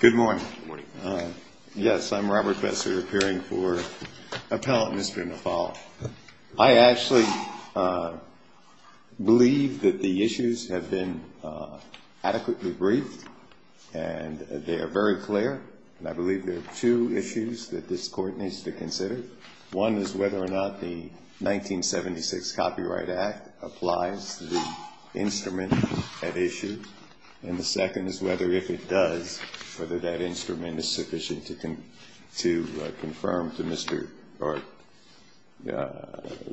Good morning. Yes, I'm Robert Besser, appearing for Appellant Mr. Nafal. I actually believe that the issues have been adequately briefed, and they are very clear, and I believe there are two issues that this Court needs to consider. One is whether or not the 1976 Copyright Act applies the instrument at issue, and the second is whether, if it does, the instrument is sufficient to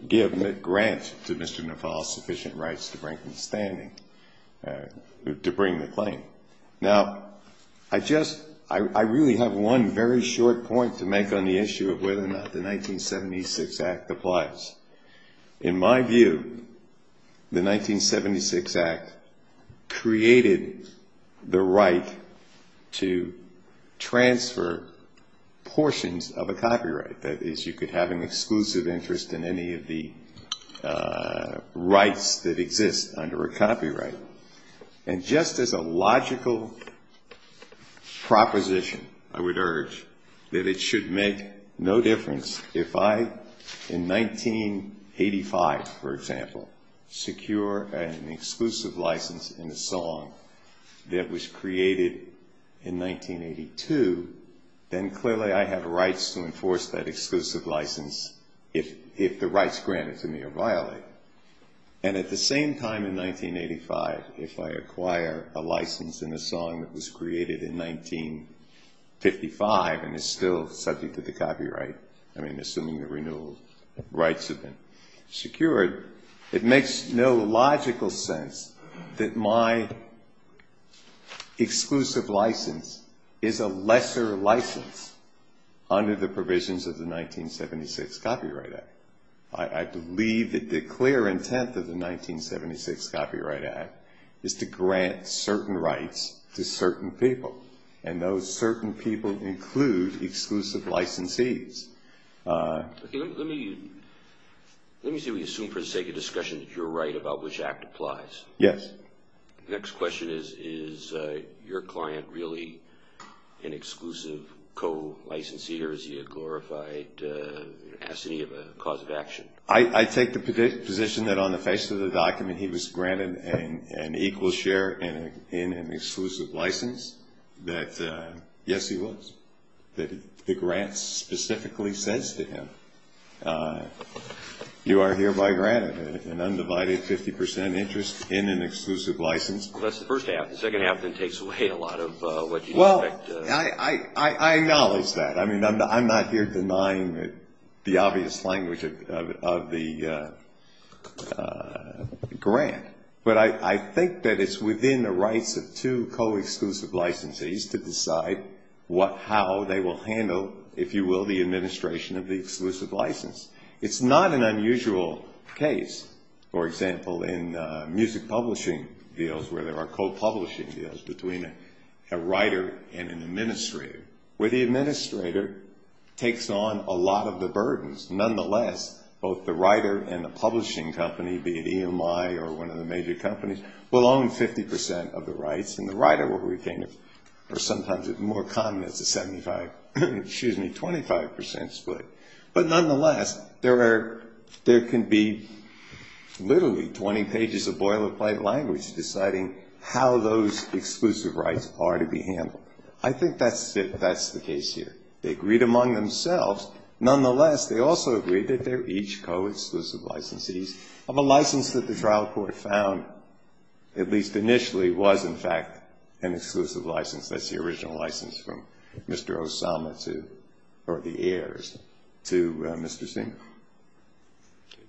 give grant to Mr. Nafal sufficient rights to bring the claim. Now, I just, I really have one very short point to make on the issue of whether or not the 1976 Act applies. In my view, the 1976 Act created the right for the claimant to transfer portions of a copyright. That is, you could have an exclusive interest in any of the rights that exist under a copyright. And just as a logical proposition, I would urge, that it should make no difference if I, in 1985, for example, secure an exclusive license in a song that was created under a copyright. In 1982, then clearly I have rights to enforce that exclusive license, if the rights granted to me are violated. And at the same time, in 1985, if I acquire a license in a song that was created in 1955 and is still subject to the copyright, I mean, assuming the renewal rights have been secured, it makes no logical sense that my exclusive license would be subject to the copyright. The exclusive license is a lesser license under the provisions of the 1976 Copyright Act. I believe that the clear intent of the 1976 Copyright Act is to grant certain rights to certain people. And those certain people include exclusive licensees. Let me assume for the sake of discussion that you're right about which Act applies. Yes. The next question is, is your client really an exclusive co-licensee or is he a glorified assignee of a cause of action? I take the position that on the face of the document, he was granted an equal share in an exclusive license, that yes, he was. That the grant specifically says to him, you are hereby granted an undivided 50% interest in an exclusive license. Well, that's the first half. The second half then takes away a lot of what you expect. I acknowledge that. I mean, I'm not here denying the obvious language of the grant. But I think that it's within the rights of two co-exclusive licensees to decide how they will handle, if you will, the administration of the exclusive license. It's not an unusual case, for example, in music publishing deals where there are co-publishing deals between a writer and an administrator, where the administrator takes on a lot of the burdens. Nonetheless, both the writer and the publishing company, be it EMI or one of the major companies, will own 50% of the rights. And the writer will retain, or sometimes it's more common, it's a 25% split. But nonetheless, there can be literally 20 pages of boilerplate language deciding how those exclusive rights are to be handled. I think that's the case here. They agreed among themselves. Nonetheless, they also agreed that they're each co-exclusive licensees of a license that the trial court found, at least initially, was, in fact, an exclusive license. That's the original license from Mr. Osama to, or the heirs, to Mr. Singer.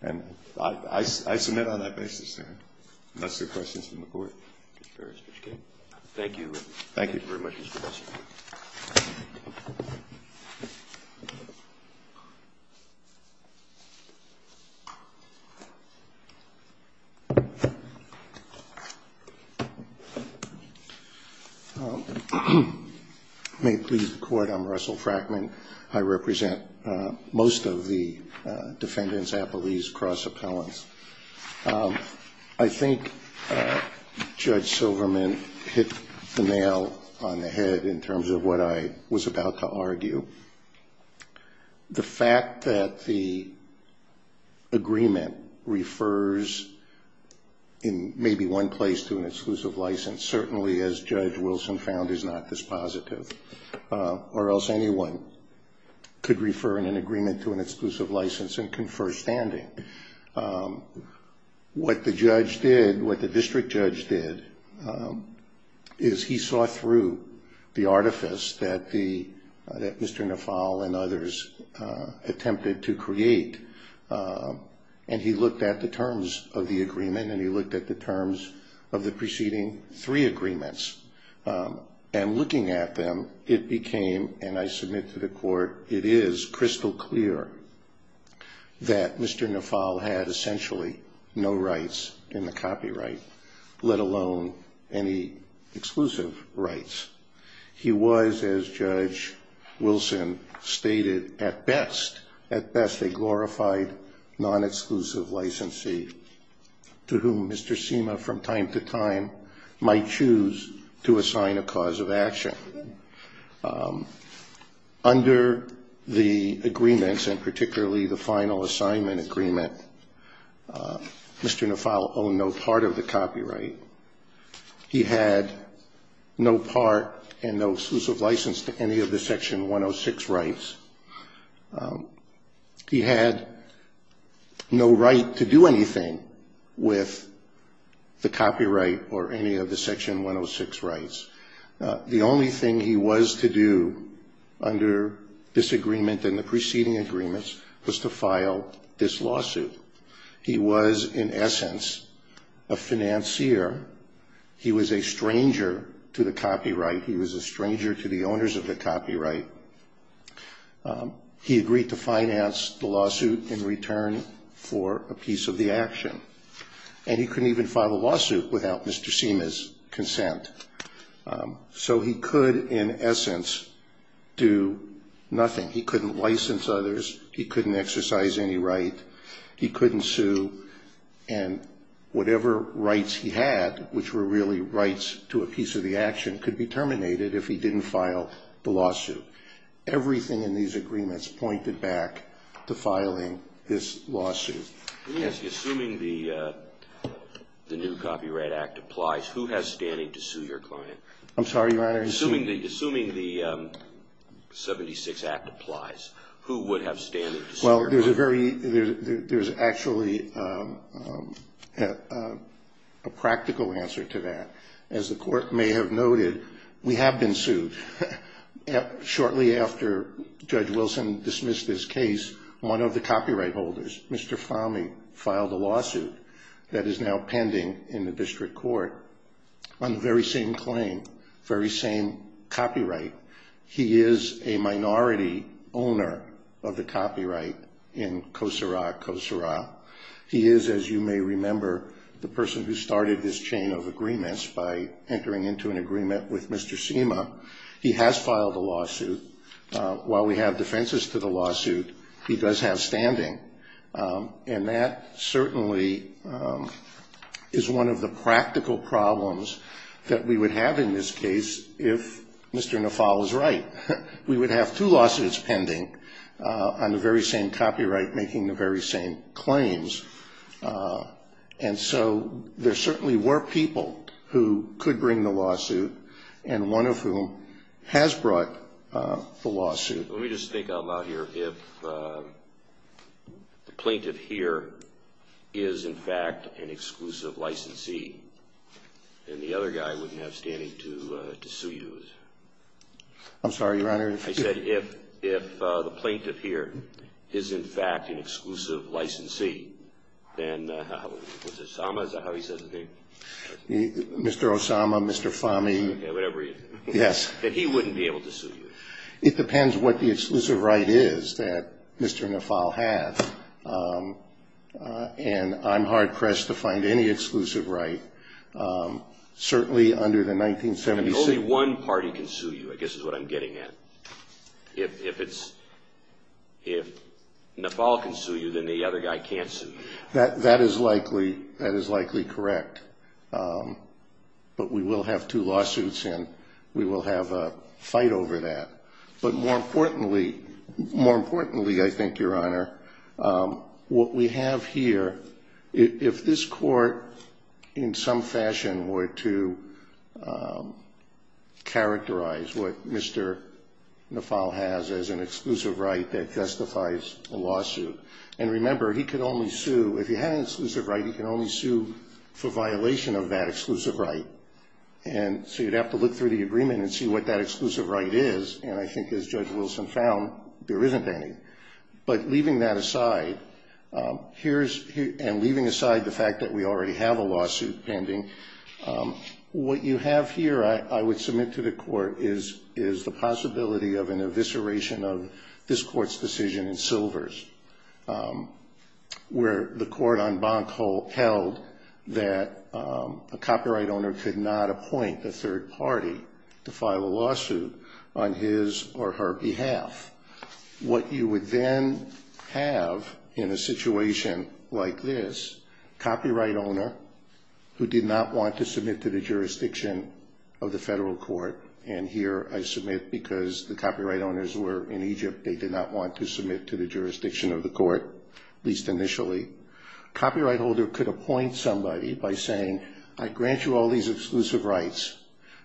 And I submit on that basis there. Unless there are questions from the Court. Thank you. Thank you very much, Mr. President. May it please the Court. I'm Russell Frackman. I represent most of the defendants, appellees, cross-appellants. I think Judge Silverman hit the nail on the head in terms of what I was about to argue. The fact that the agreement refers in maybe one place to an exclusive license certainly, as Judge Wilson found, is not this positive. Or else anyone could refer in an agreement to an exclusive license and confer standing. What the judge did, what the district judge did, is he saw through the artifice that Mr. Nafal and others attempted to create. And he looked at the terms of the agreement and he looked at the terms of the preceding three agreements. And looking at them, it became, and I submit to the Court, it is crystal clear that Mr. Nafal had essentially no rights in the copyright, let alone any exclusive rights. He was, as Judge Wilson stated, at best, at best a glorified non-exclusive licensee to whom Mr. Cima from time to time might choose to assign a cause of action. Under the agreements, and particularly the final assignment agreement, Mr. Nafal owned no part of the copyright. He had no part and no exclusive license to any of the Section 106 rights. He had no right to do anything with the copyright or any of the Section 106 rights. The only thing he was to do under this agreement and the preceding agreements was to file this lawsuit. He was, in essence, a financier. He was a stranger to the copyright. He was a stranger to the owners of the copyright. He agreed to finance the lawsuit in return for a piece of the action. And he couldn't even file a lawsuit without Mr. Cima's consent. So he could, in essence, do nothing. He couldn't license others. He couldn't exercise any right. He couldn't sue. And whatever rights he had, which were really rights to a piece of the action, could be terminated if he didn't file the lawsuit. Everything in these agreements pointed back to filing this lawsuit. Let me ask you, assuming the new Copyright Act applies, who has standing to sue your client? I'm sorry, Your Honor? Assuming the 76 Act applies, who would have standing to sue your client? Well, there's actually a practical answer to that. As the Court may have noted, we have been sued. Shortly after Judge Wilson dismissed his case, one of the copyright holders, Mr. Fahmy, filed a lawsuit that is now pending in the District Court on the very same claim, very same copyright. He is a minority owner of the copyright in COSERA, COSERA. He is, as you may remember, the person who started this chain of agreements by entering into an agreement with Mr. Cima. He has filed a lawsuit. While we have defenses to the lawsuit, he does have standing. And that certainly is one of the practical problems that we would have in this case if Mr. Nafal was right. We would have two lawsuits pending on the very same copyright making the very same claims. And so there certainly were people who could bring the lawsuit, and one of whom has brought the lawsuit. Let me just think out loud here. If the plaintiff here is, in fact, an exclusive licensee, then the other guy wouldn't have standing to sue you. I'm sorry, Your Honor? I said, if the plaintiff here is, in fact, an exclusive licensee, then, was it Osama? Is that how he says his name? Mr. Osama, Mr. Fahmy. Yeah, whatever he is. Yes. Then he wouldn't be able to sue you. It depends what the exclusive right is that Mr. Nafal has. And I'm hard-pressed to find any exclusive right, certainly under the 1976... Only one party can sue you, I guess is what I'm getting at. If Nafal can sue you, then the other guy can't sue you. That is likely correct. But we will have two lawsuits, and we will have a fight over that. But more importantly, I think, Your Honor, what we have here, if this court in some fashion were to characterize what Mr. Nafal has as an exclusive right that justifies a lawsuit... And remember, if he had an exclusive right, he could only sue for violation of that exclusive right. And so you'd have to look through the agreement and see what that exclusive right is. And I think, as Judge Wilson found, there isn't any. But leaving that aside, and leaving aside the fact that we already have a lawsuit pending, what you have here, I would submit to the court, is the possibility of an evisceration of this court's decision in Silvers, where the court on Bonk held that a copyright owner could not appoint a third party to file a lawsuit on his or her behalf. What you would then have in a situation like this, copyright owner who did not want to submit to the jurisdiction of the federal court, and here I submit because the copyright owners were in Egypt. They did not want to submit to the jurisdiction of the court, at least initially. Copyright holder could appoint somebody by saying, I grant you all these exclusive rights,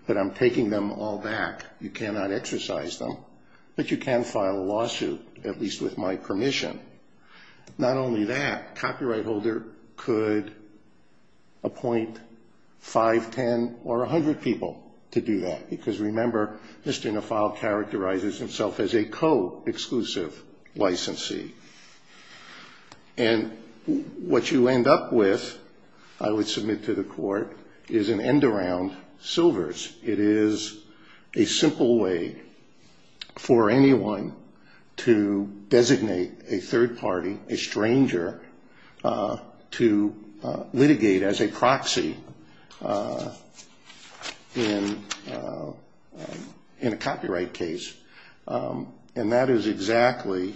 but I'm taking them all back. You cannot exercise them, but you can file a lawsuit, at least with my permission. Not only that, copyright holder could appoint 5, 10, or 100 people to do that. Because remember, Mr. Nafal characterizes himself as a co-exclusive licensee. What you end up with, I would submit to the court, is an end around Silvers. It is a simple way for anyone to designate a third party, a stranger, to litigate as a proxy in a copyright case. And that is exactly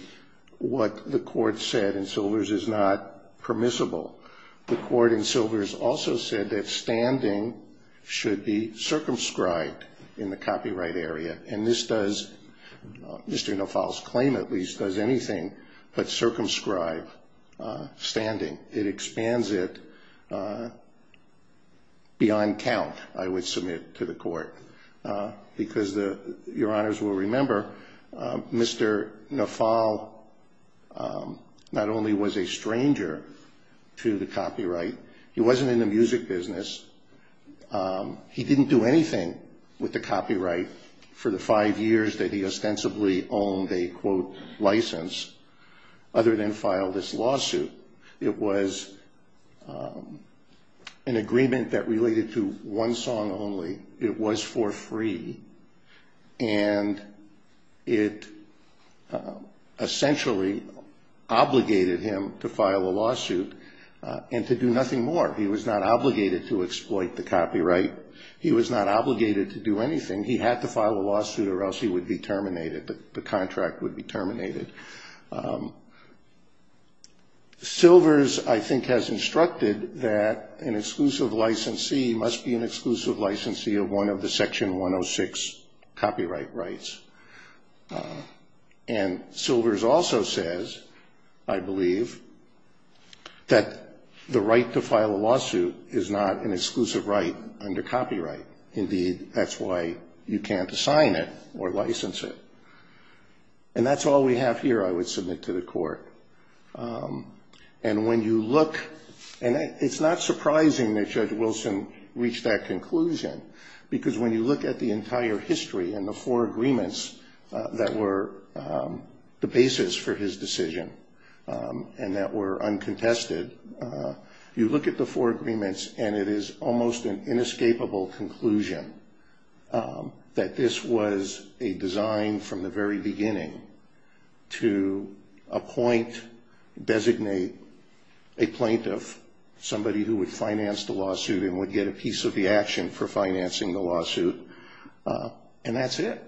what the court said in Silvers is not permissible. The court in Silvers also said that standing should be circumscribed in the copyright area. And this does, Mr. Nafal's claim at least, does anything but circumscribe standing. It expands it beyond count, I would submit to the court. Because your honors will remember, Mr. Nafal not only was a stranger to the copyright, he wasn't in the music business. He didn't do anything with the copyright for the five years that he ostensibly owned a quote, license, other than file this lawsuit. It was an agreement that related to one song only. It was for free. And it essentially obligated him to file a lawsuit and to do nothing more. He was not obligated to exploit the copyright. He was not obligated to do anything. He had to file a lawsuit or else he would be terminated. The contract would be terminated. Silvers, I think, has instructed that an exclusive licensee must be an exclusive licensee of one of the Section 106 copyright rights. And Silvers also says, I believe, that the right to file a lawsuit is not an exclusive right under copyright. Indeed, that's why you can't assign it or license it. And that's all we have here I would submit to the court. And when you look, and it's not surprising that Judge Wilson reached that conclusion, because when you look at the entire history and the four agreements that were the basis for his decision and that were uncontested, you look at the four agreements and it is almost an inescapable conclusion that this was a design from the very beginning to appoint, designate a plaintiff, somebody who would finance the lawsuit and would get a piece of the action for financing the lawsuit. And that's it.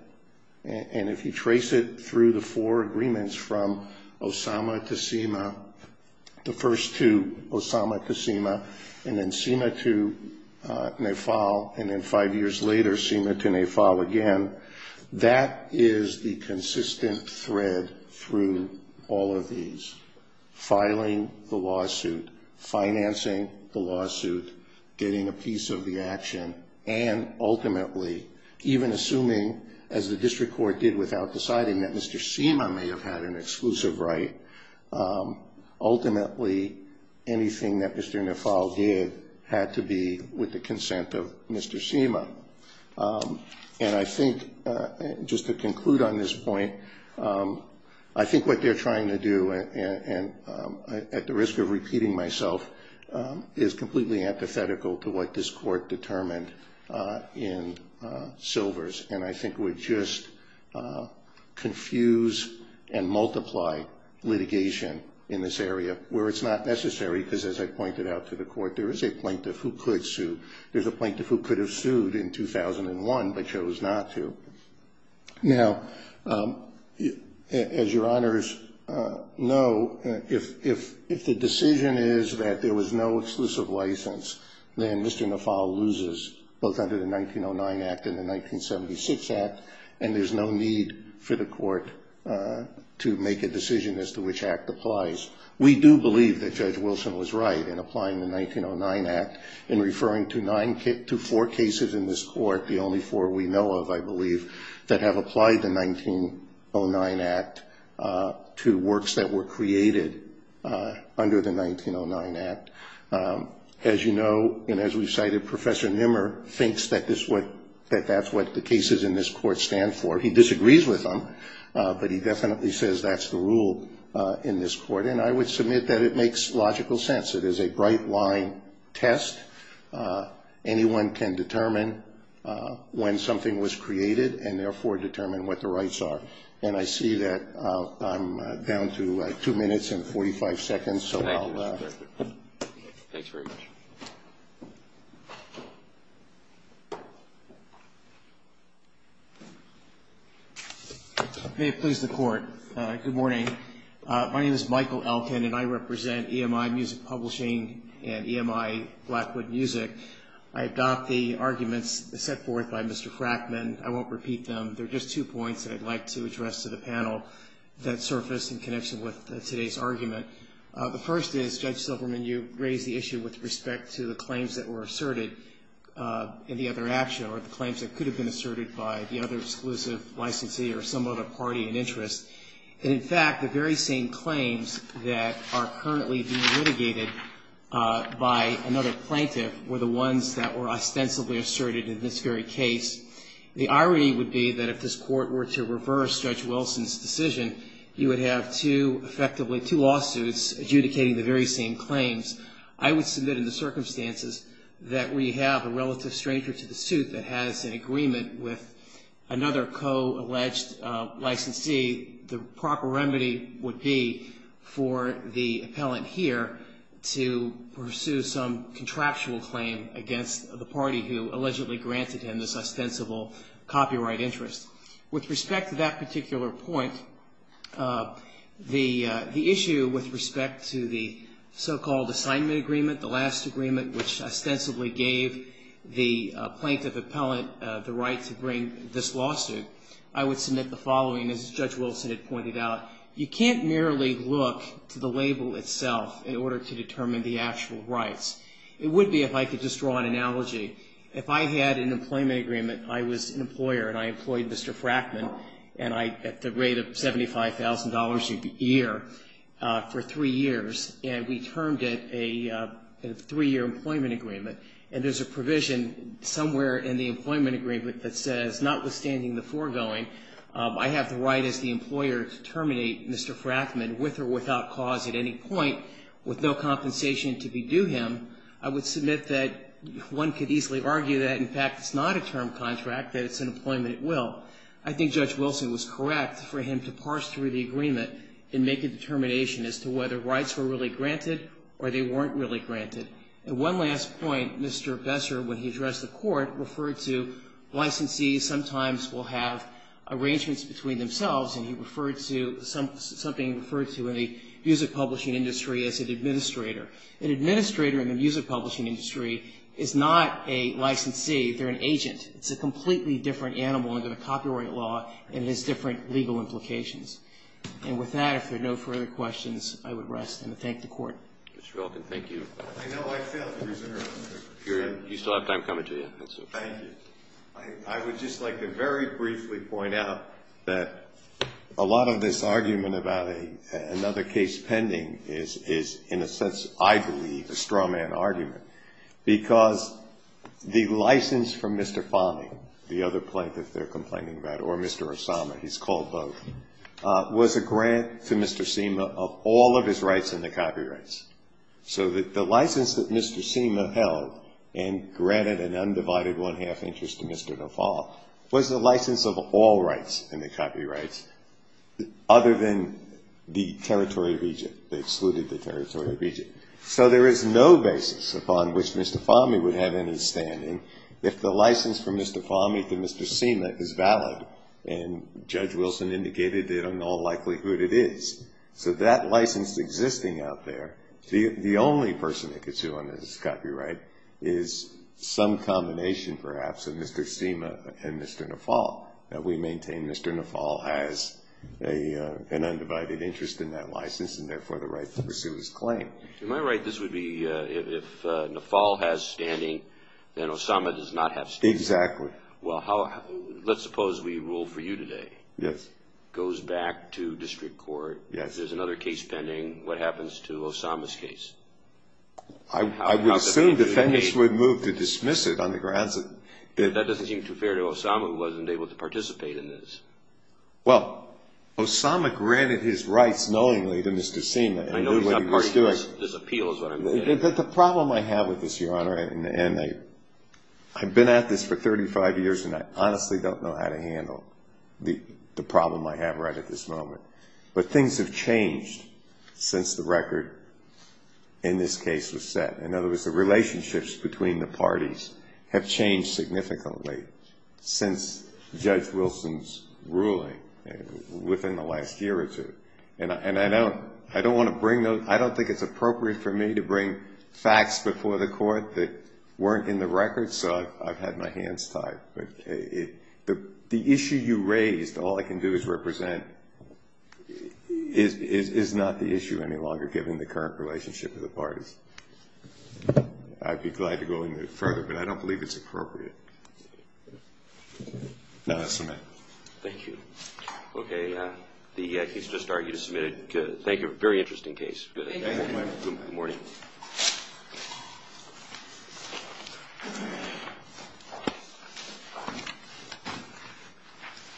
And if you trace it through the four agreements from Osama to Seema, the first two, Osama to Seema, and then Seema to Nafal, and then five years later, Seema to Nafal again, that is the consistent thread through all of these. Filing the lawsuit, financing the lawsuit, getting a piece of the action, and ultimately even assuming, as the district court did without deciding that Mr. Seema may have had an exclusive right, ultimately anything that Mr. Nafal did had to be with the consent of Mr. Seema. And I think, just to conclude on this point, I think what they're trying to do, and at the risk of repeating myself, is completely empathetical to what this court determined in Silvers, and I think would just confuse and multiply litigation in this area where it's not necessary, because as I pointed out to the court, there is a plaintiff who could sue. There's a plaintiff who could have sued in 2001 but chose not to. Now, as your honors know, if the decision is that there was no exclusive license, then Mr. Nafal loses both under the 1909 Act and the 1976 Act, and there's no need for the court to make a decision as to which Act applies. We do believe that Judge Wilson was right in applying the 1909 Act in referring to four cases in this court, the only four we know of, I believe, that have applied the 1909 Act to works that were created under the 1909 Act. As you know, and as we've cited, Professor Nimmer thinks that that's what the cases in this court stand for. He disagrees with them, but he definitely says that's the rule in this court, and I would submit that it makes logical sense. It is a bright-line test. Anyone can determine when something was created and therefore determine what the rights are, and I see that I'm down to two minutes and 45 seconds, so I'll stop. Thank you, Mr. Berger. Thanks very much. May it please the Court. Good morning. My name is Michael Elkin, and I represent EMI Music Publishing and EMI Blackwood Music. I adopt the arguments set forth by Mr. Frackman. I won't repeat them. They're just two points that I'd like to address to the panel that surfaced in connection with today's argument. The first is, Judge Silverman, you raised the issue with respect to the claims that were asserted in the other action or the claims that could have been asserted by the other exclusive licensee or some other party in interest. And, in fact, the very same claims that are currently being litigated by another plaintiff were the ones that were ostensibly asserted in this very case. The irony would be that if this Court were to reverse Judge Wilson's decision, you would have effectively two lawsuits adjudicating the very same claims. I would submit in the circumstances that we have a relative stranger to the suit that has an agreement with another co-alleged licensee, the proper remedy would be for the appellant here to pursue some contractual claim against the party who allegedly granted him this ostensible copyright interest. With respect to that particular point, the issue with respect to the so-called assignment agreement, the last agreement which ostensibly gave the plaintiff appellant the right to bring this lawsuit, I would submit the following, as Judge Wilson had pointed out. You can't merely look to the label itself in order to determine the actual rights. It would be if I could just draw an analogy. If I had an employment agreement, I was an employer and I employed Mr. Frackman and I, at the rate of $75,000 a year, for three years, and we termed it a three-year employment agreement, and there's a provision somewhere in the employment agreement that says, notwithstanding the foregoing, I have the right as the employer to terminate Mr. Frackman with or without cause at any point with no compensation to be due him, I would submit that one could easily argue that, in fact, it's not a term contract, that it's an employment at will. I think Judge Wilson was correct for him to parse through the agreement and make a determination as to whether rights were really granted or they weren't really granted. At one last point, Mr. Besser, when he addressed the court, referred to licensees sometimes will have arrangements between themselves, and he referred to something he referred to in the music publishing industry as an administrator. An administrator in the music publishing industry is not a licensee. They're an agent. It's a completely different animal under the copyright law, and it has different legal implications. And with that, if there are no further questions, I would rest and thank the Court. Mr. Velkin, thank you. I know I failed to reserve. You still have time coming to me. Thank you. I would just like to very briefly point out that a lot of this argument about another case pending is in a sense, I believe, a strawman argument, because the license for Mr. Fahmy, the other plaintiff they're complaining about, or Mr. Osama, he's called both, was a grant to Mr. Seema of all of his rights in the copyrights. So the license that Mr. Seema held and granted an undivided one-half interest to Mr. Nafal was the license of all rights in the copyrights other than the territory of Egypt. They excluded the territory of Egypt. So there is no basis upon which Mr. Fahmy would have any standing if the license from Mr. Fahmy to Mr. Seema is valid, and Judge Wilson indicated that in all likelihood it is. So that license existing out there, the only person that could sue on this copyright is some combination, perhaps, of Mr. Seema and Mr. Nafal. We maintain Mr. Nafal has an undivided interest in that license, and therefore the right to pursue his claim. Am I right? This would be if Nafal has standing, then Osama does not have standing. Exactly. Well, let's suppose we rule for you today. Yes. Goes back to district court. Yes. There's another case pending. What happens to Osama's case? I would assume defendants would move to dismiss it on the grounds that- That doesn't seem too fair to Osama, who wasn't able to participate in this. Well, Osama granted his rights knowingly to Mr. Seema. I know he's not part of this appeal is what I'm saying. But the problem I have with this, Your Honor, and I've been at this for 35 years, and I honestly don't know how to handle the problem I have right at this moment. But things have changed since the record in this case was set. In other words, the relationships between the parties have changed significantly since Judge Wilson's ruling within the last year or two. And I don't want to bring those- I don't think it's appropriate for me to bring facts before the court that weren't in the record, so I've had my hands tied. But the issue you raised, all I can do is represent, is not the issue any longer, given the current relationship of the parties. I'd be glad to go any further, but I don't believe it's appropriate. No, that's all I have. Thank you. Okay. He's just argued and submitted. Good. Thank you. Very interesting case. Thank you. Good morning.